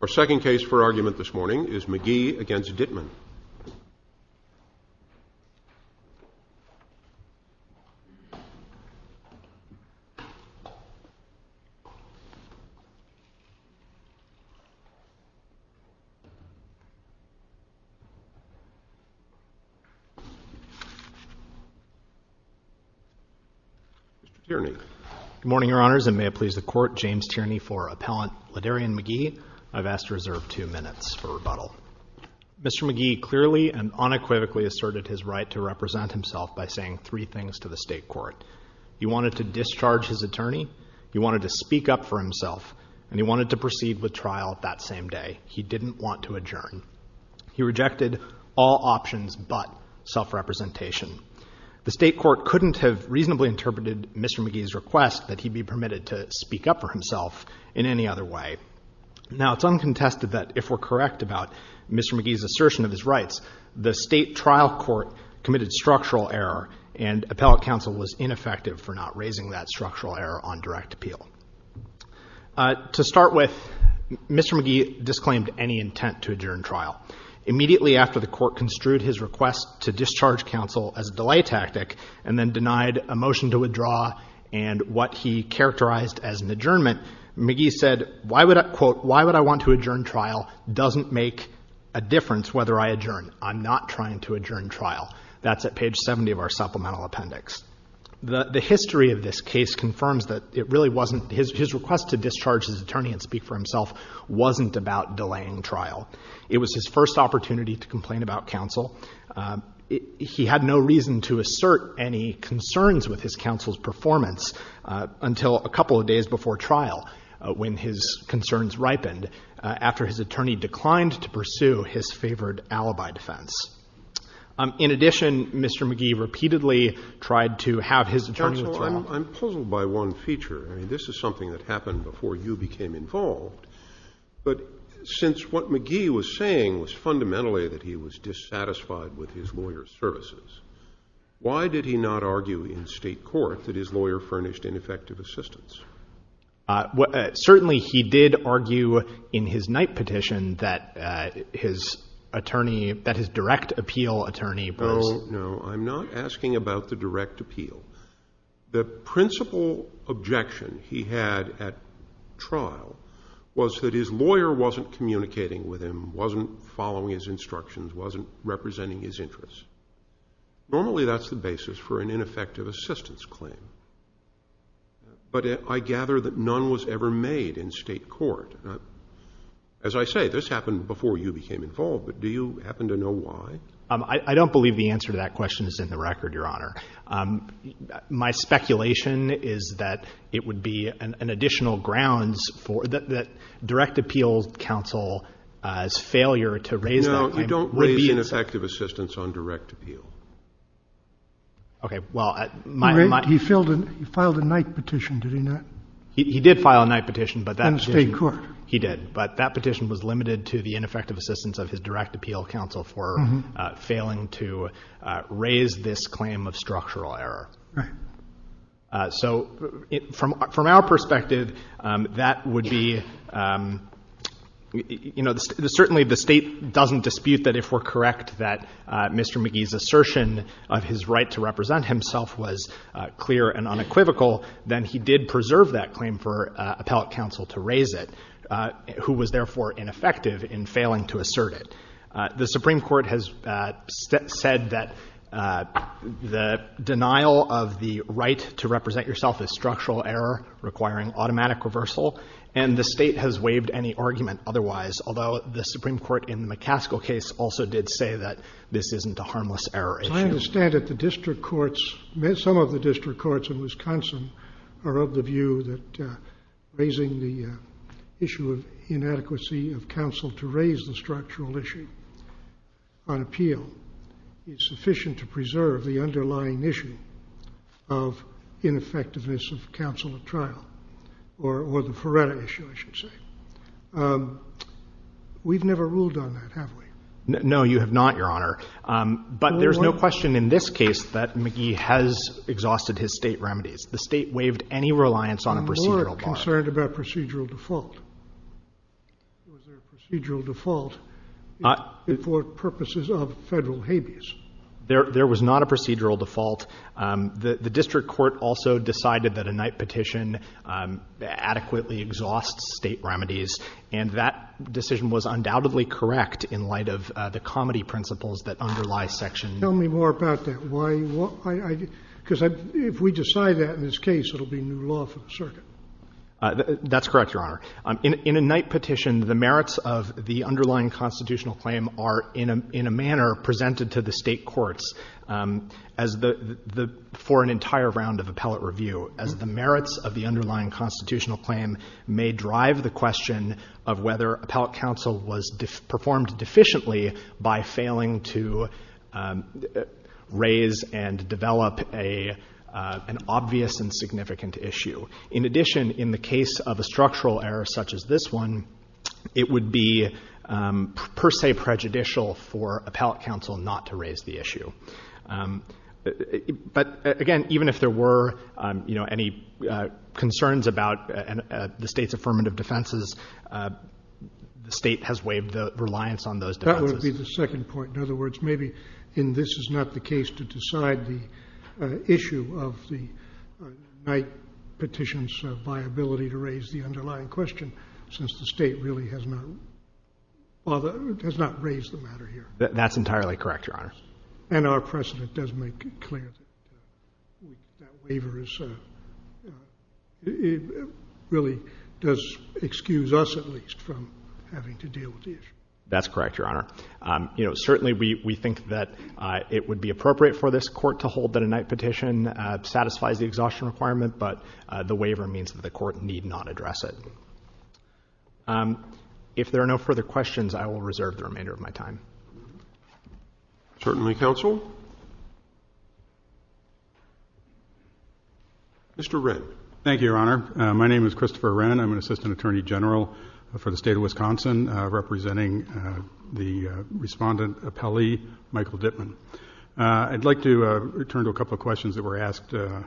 Our second case for argument this morning is McGhee v. Dittmann. Mr. Tierney. Good morning, Your Honors, and may it please the Court, for Appellant Laderian McGhee, I've asked to reserve two minutes for rebuttal. Mr. McGhee clearly and unequivocally asserted his right to represent himself by saying three things to the State Court. He wanted to discharge his attorney, he wanted to speak up for himself, and he wanted to proceed with trial that same day. He didn't want to adjourn. He rejected all options but self-representation. The State Court couldn't have reasonably interpreted Mr. McGhee's request that he be permitted to speak up for himself in any other way. Now, it's uncontested that if we're correct about Mr. McGhee's assertion of his rights, the State Trial Court committed structural error, and Appellate Counsel was ineffective for not raising that structural error on direct appeal. To start with, Mr. McGhee disclaimed any intent to adjourn trial. Immediately after the Court construed his request to discharge counsel as a delay tactic and then denied a motion to withdraw and what he characterized as an adjournment, McGhee said, quote, why would I want to adjourn trial doesn't make a difference whether I adjourn. I'm not trying to adjourn trial. That's at page 70 of our supplemental appendix. The history of this case confirms that it really wasn't, his request to discharge his attorney and speak for himself wasn't about delaying trial. It was his first opportunity to complain about counsel. He had no reason to assert any concerns with his counsel's performance until a couple of days before trial when his concerns ripened after his attorney declined to pursue his favored alibi defense. In addition, Mr. McGhee repeatedly tried to have his attorney withdraw. I'm puzzled by one feature. I mean, this is something that happened before you became involved. But since what McGhee was saying was fundamentally that he was dissatisfied with his lawyer's services, why did he not argue in state court that his lawyer furnished ineffective assistance? Certainly he did argue in his Knight petition that his attorney, that his direct appeal attorney was. Oh, no, I'm not asking about the direct appeal. The principal objection he had at trial was that his lawyer wasn't communicating with him, wasn't following his instructions, wasn't representing his interests. Normally that's the basis for an ineffective assistance claim. But I gather that none was ever made in state court. As I say, this happened before you became involved, but do you happen to know why? I don't believe the answer to that question is in the record, Your Honor. My speculation is that it would be an additional grounds for the direct appeal counsel's failure to raise the claim. No, you don't raise ineffective assistance on direct appeal. Okay. He filed a Knight petition, did he not? He did file a Knight petition. In the state court. He did. But that petition was limited to the ineffective assistance of his direct appeal counsel for failing to raise this claim of structural error. So from our perspective, that would be, you know, certainly the state doesn't dispute that if we're correct that Mr. McGee's assertion of his right to represent himself was clear and unequivocal, then he did preserve that claim for appellate counsel to raise it, who was therefore ineffective in failing to assert it. The Supreme Court has said that the denial of the right to represent yourself is structural error requiring automatic reversal, and the state has waived any argument otherwise, although the Supreme Court in the McCaskill case also did say that this isn't a harmless error issue. I understand that the district courts, some of the district courts in Wisconsin, are of the view that raising the issue of inadequacy of counsel to raise the structural issue on appeal is sufficient to preserve the underlying issue of ineffectiveness of counsel at trial, or the Feretta issue, I should say. We've never ruled on that, have we? No, you have not, Your Honor. But there's no question in this case that McGee has exhausted his state remedies. The state waived any reliance on a procedural bar. I'm more concerned about procedural default. Was there a procedural default for purposes of federal habeas? There was not a procedural default. The district court also decided that a Knight petition adequately exhausts state remedies, and that decision was undoubtedly correct in light of the comity principles that underlie Section — Tell me more about that. Why — because if we decide that in this case, it will be new law for the circuit. That's correct, Your Honor. In a Knight petition, the merits of the underlying constitutional claim are in a manner presented to the state courts as the — for an entire round of appellate review. As the merits of the underlying constitutional claim may drive the question of whether appellate counsel was performed deficiently by failing to raise and develop an obvious and significant issue. In addition, in the case of a structural error such as this one, it would be per se prejudicial for appellate counsel not to raise the issue. But, again, even if there were, you know, any concerns about the state's affirmative defenses, the state has waived the reliance on those defenses. That would be the second point. In other words, maybe in this is not the case to decide the issue of the Knight petition's viability to raise the underlying question, since the state really has not raised the matter here. That's entirely correct, Your Honor. And our precedent does make it clear that that waiver is — really does excuse us, at least, from having to deal with the issue. That's correct, Your Honor. You know, certainly we think that it would be appropriate for this court to hold that a Knight petition satisfies the exhaustion requirement, but the waiver means that the court need not address it. If there are no further questions, I will reserve the remainder of my time. Certainly, counsel. Mr. Wren. Thank you, Your Honor. My name is Christopher Wren. I'm an assistant attorney general for the state of Wisconsin, representing the respondent appellee, Michael Dittman. I'd like to return to a couple of questions that were asked of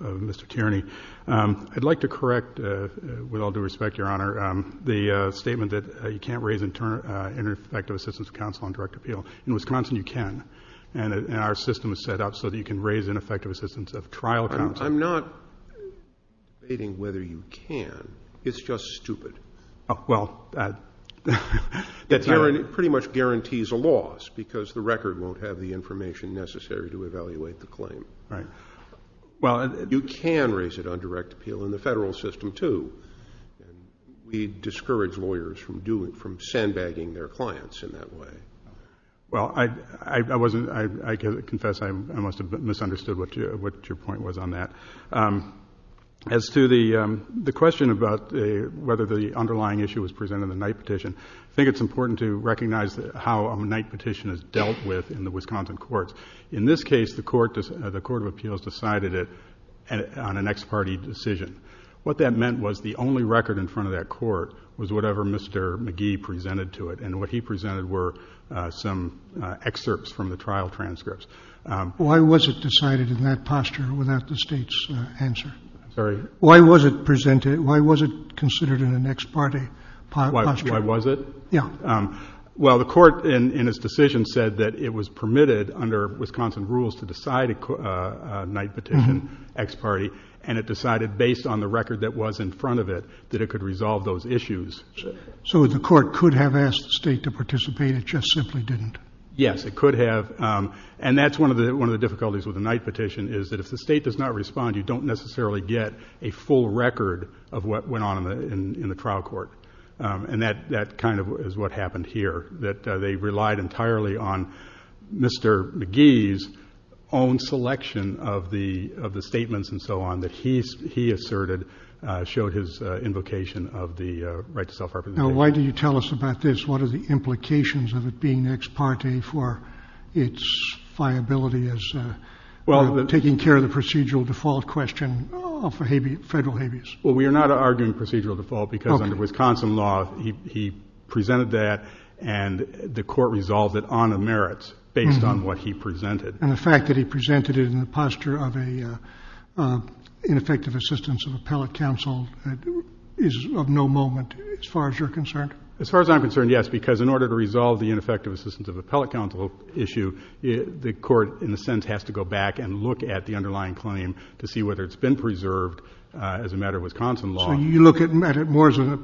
Mr. Tierney. I'd like to correct, with all due respect, Your Honor, the statement that you can't raise ineffective assistance of counsel on direct appeal. In Wisconsin, you can, and our system is set up so that you can raise ineffective assistance of trial counsel. I'm not debating whether you can. It's just stupid. Well, that's — It pretty much guarantees a loss, because the record won't have the information necessary to evaluate the claim. Right. Well, you can raise it on direct appeal in the federal system, too. We discourage lawyers from sandbagging their clients in that way. Well, I wasn't — I confess I must have misunderstood what your point was on that. As to the question about whether the underlying issue was presented in the Knight petition, I think it's important to recognize how a Knight petition is dealt with in the Wisconsin courts. In this case, the court of appeals decided it on an ex parte decision. What that meant was the only record in front of that court was whatever Mr. Magee presented to it, and what he presented were some excerpts from the trial transcripts. Why was it decided in that posture without the State's answer? I'm sorry? Why was it presented — why was it considered in an ex parte posture? Why was it? Yeah. Well, the court in its decision said that it was permitted under Wisconsin rules to decide a Knight petition ex parte, and it decided based on the record that was in front of it that it could resolve those issues. So the court could have asked the State to participate. It just simply didn't. Yes, it could have. And that's one of the difficulties with a Knight petition is that if the State does not respond, you don't necessarily get a full record of what went on in the trial court. And that kind of is what happened here, that they relied entirely on Mr. Magee's own selection of the statements and so on that he asserted showed his invocation of the right to self-representation. Now, why do you tell us about this? What are the implications of it being ex parte for its viability as taking care of the procedural default question of federal habeas? Well, we are not arguing procedural default because under Wisconsin law he presented that and the court resolved it on the merits based on what he presented. And the fact that he presented it in the posture of an ineffective assistance of appellate counsel is of no moment as far as you're concerned? As far as I'm concerned, yes, because in order to resolve the ineffective assistance of appellate counsel issue, the court in a sense has to go back and look at the underlying claim to see whether it's been preserved as a matter of Wisconsin law. So you look at it more as a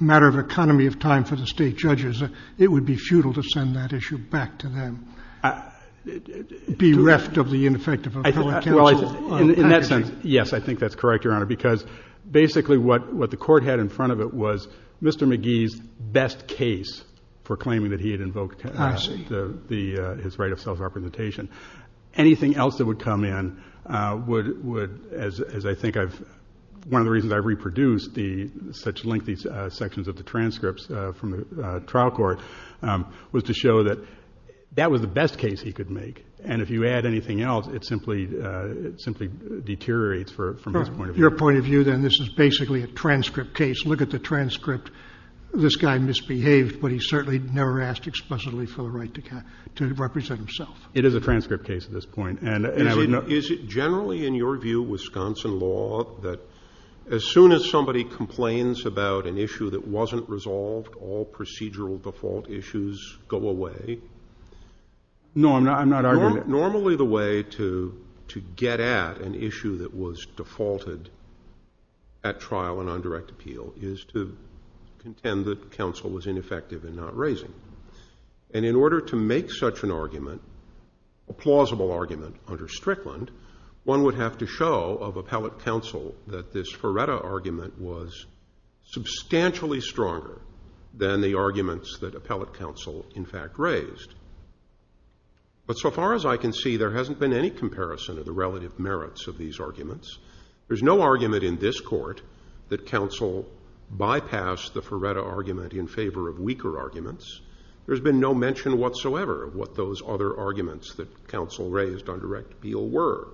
matter of economy of time for the State judges. It would be futile to send that issue back to them, bereft of the ineffective appellate counsel? Well, in that sense, yes, I think that's correct, Your Honor, because basically what the court had in front of it was Mr. McGee's best case for claiming that he had invoked his right of self-representation. Anything else that would come in would, as I think one of the reasons I've reproduced such lengthy sections of the transcripts from the trial court, was to show that that was the best case he could make, and if you add anything else, it simply deteriorates from his point of view. Your point of view, then, this is basically a transcript case. Look at the transcript. This guy misbehaved, but he certainly never asked explicitly for the right to represent himself. It is a transcript case at this point. Is it generally in your view, Wisconsin law, that as soon as somebody complains about an issue that wasn't resolved, all procedural default issues go away? No, I'm not arguing that. Normally the way to get at an issue that was defaulted at trial and on direct appeal is to contend that counsel was ineffective in not raising, and in order to make such an argument, a plausible argument under Strickland, one would have to show of appellate counsel that this Ferretta argument was substantially stronger than the arguments that appellate counsel in fact raised. But so far as I can see, there hasn't been any comparison of the relative merits of these arguments. There's no argument in this court that counsel bypassed the Ferretta argument in favor of weaker arguments. There's been no mention whatsoever of what those other arguments that counsel raised on direct appeal were.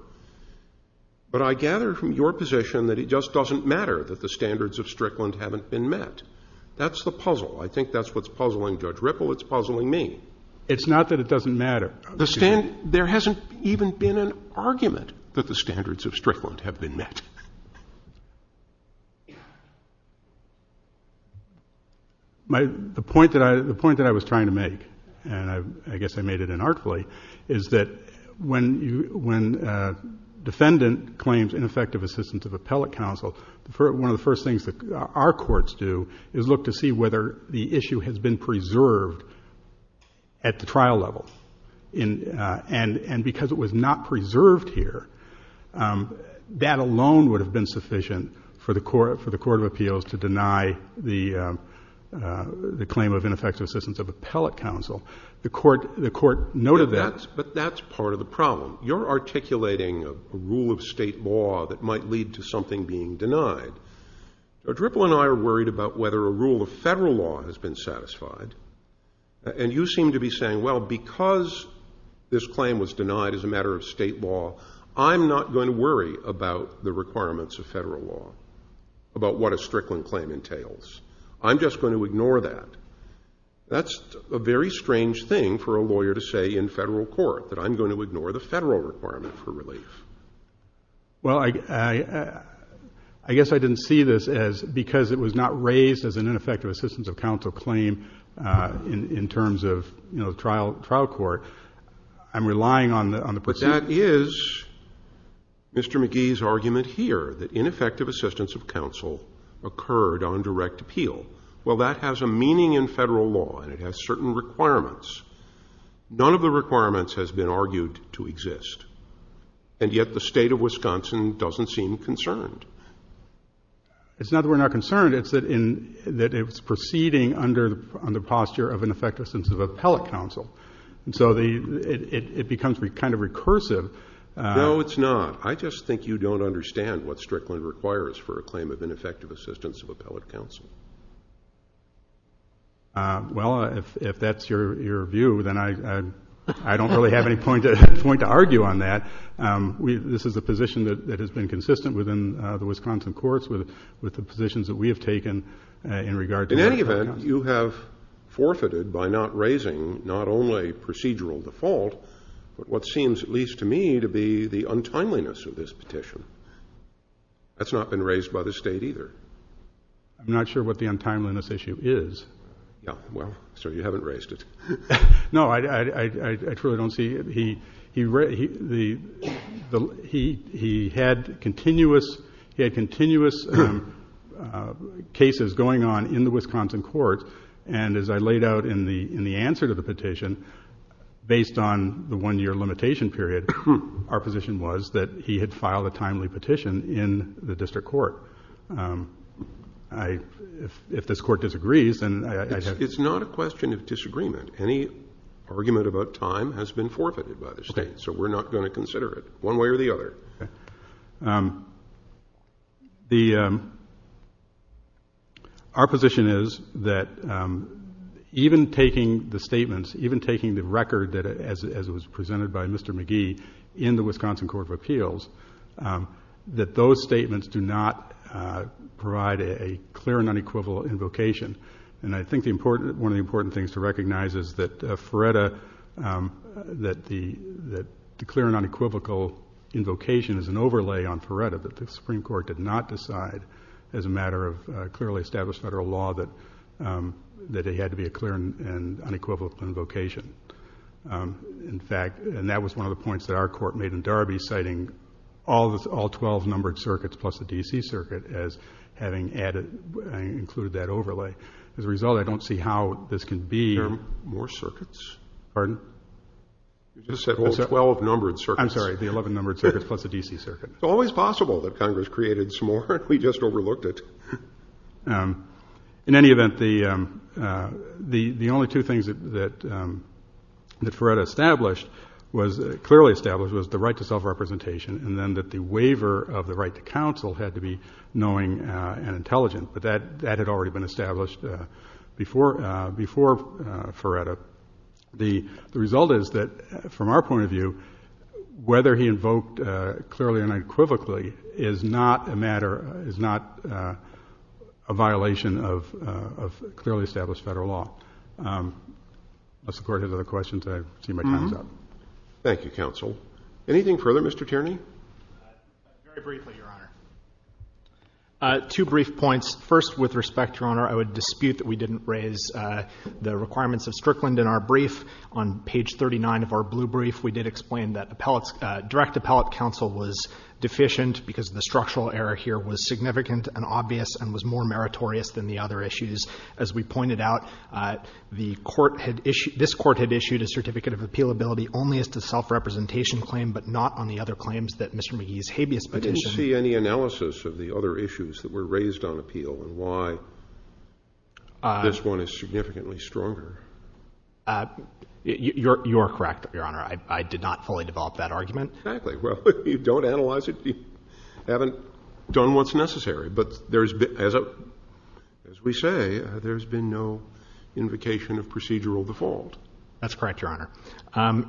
But I gather from your position that it just doesn't matter that the standards of Strickland haven't been met. That's the puzzle. I think that's what's puzzling Judge Ripple. It's puzzling me. It's not that it doesn't matter. There hasn't even been an argument that the standards of Strickland have been met. The point that I was trying to make, and I guess I made it inartfully, is that when a defendant claims ineffective assistance of appellate counsel, one of the first things that our courts do is look to see whether the issue has been preserved at the trial level. And because it was not preserved here, that alone would have been sufficient for the court of appeals to deny the claim of ineffective assistance of appellate counsel. The court noted that. You're articulating a rule of state law that might lead to something being denied. Now, Ripple and I are worried about whether a rule of federal law has been satisfied. And you seem to be saying, well, because this claim was denied as a matter of state law, I'm not going to worry about the requirements of federal law, about what a Strickland claim entails. I'm just going to ignore that. That's a very strange thing for a lawyer to say in federal court, that I'm going to ignore the federal requirement for relief. Well, I guess I didn't see this as because it was not raised as an ineffective assistance of counsel claim in terms of trial court. I'm relying on the procedure. But that is Mr. McGee's argument here, that ineffective assistance of counsel occurred on direct appeal. Well, that has a meaning in federal law, and it has certain requirements. None of the requirements has been argued to exist. And yet the state of Wisconsin doesn't seem concerned. It's not that we're not concerned. It's that it's proceeding under the posture of ineffective assistance of appellate counsel. And so it becomes kind of recursive. No, it's not. I just think you don't understand what Strickland requires for a claim of ineffective assistance of appellate counsel. Well, if that's your view, then I don't really have any point to argue on that. This is a position that has been consistent within the Wisconsin courts with the positions that we have taken in regard to appellate counsel. And you have forfeited by not raising not only procedural default, but what seems at least to me to be the untimeliness of this petition. That's not been raised by the state either. I'm not sure what the untimeliness issue is. Yeah, well, so you haven't raised it. No, I truly don't see it. He had continuous cases going on in the Wisconsin courts. And as I laid out in the answer to the petition, based on the one-year limitation period, our position was that he had filed a timely petition in the district court. If this court disagrees, then I have to. It's not a question of disagreement. Any argument about time has been forfeited by the state, so we're not going to consider it one way or the other. Our position is that even taking the statements, even taking the record as it was presented by Mr. McGee in the Wisconsin Court of Appeals, that those statements do not provide a clear and unequivocal invocation. And I think one of the important things to recognize is that the clear and unequivocal invocation is an overlay on FRERTA that the Supreme Court did not decide as a matter of clearly established federal law that it had to be a clear and unequivocal invocation. And that was one of the points that our court made in Darby, citing all 12 numbered circuits plus the D.C. circuit as having added, included that overlay. As a result, I don't see how this can be. There are more circuits. Pardon? You just said all 12 numbered circuits. I'm sorry, the 11 numbered circuits plus the D.C. circuit. It's always possible that Congress created some more, and we just overlooked it. In any event, the only two things that FRERTA established, clearly established, was the right to self-representation and then that the waiver of the right to counsel had to be knowing and intelligent. But that had already been established before FRERTA. The result is that, from our point of view, whether he invoked clearly and unequivocally is not a matter, is not a violation of clearly established federal law. Unless the Court has other questions, I see my time is up. Thank you, Counsel. Anything further, Mr. Tierney? Very briefly, Your Honor. Two brief points. First, with respect, Your Honor, I would dispute that we didn't raise the requirements of Strickland in our brief. On page 39 of our blue brief, we did explain that direct appellate counsel was deficient because the structural error here was significant and obvious and was more meritorious than the other issues. As we pointed out, this Court had issued a certificate of appealability only as to self-representation claim but not on the other claims that Mr. McGee's habeas petition. Do you see any analysis of the other issues that were raised on appeal and why this one is significantly stronger? You are correct, Your Honor. I did not fully develop that argument. Exactly. Well, you don't analyze it. You haven't done what's necessary. But as we say, there's been no invocation of procedural default. That's correct, Your Honor.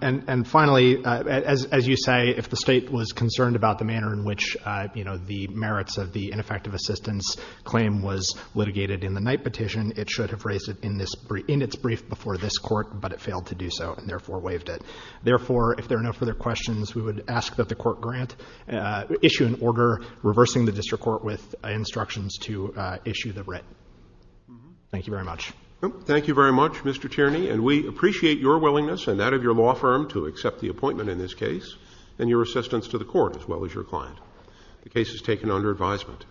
And finally, as you say, if the State was concerned about the manner in which, you know, the merits of the ineffective assistance claim was litigated in the Knight petition, it should have raised it in its brief before this Court, but it failed to do so and therefore waived it. Therefore, if there are no further questions, we would ask that the Court grant issue an order reversing the district court with instructions to issue the writ. Thank you very much. Thank you very much, Mr. Tierney. And we appreciate your willingness and that of your law firm to accept the appointment in this case and your assistance to the Court as well as your client. The case is taken under advisement.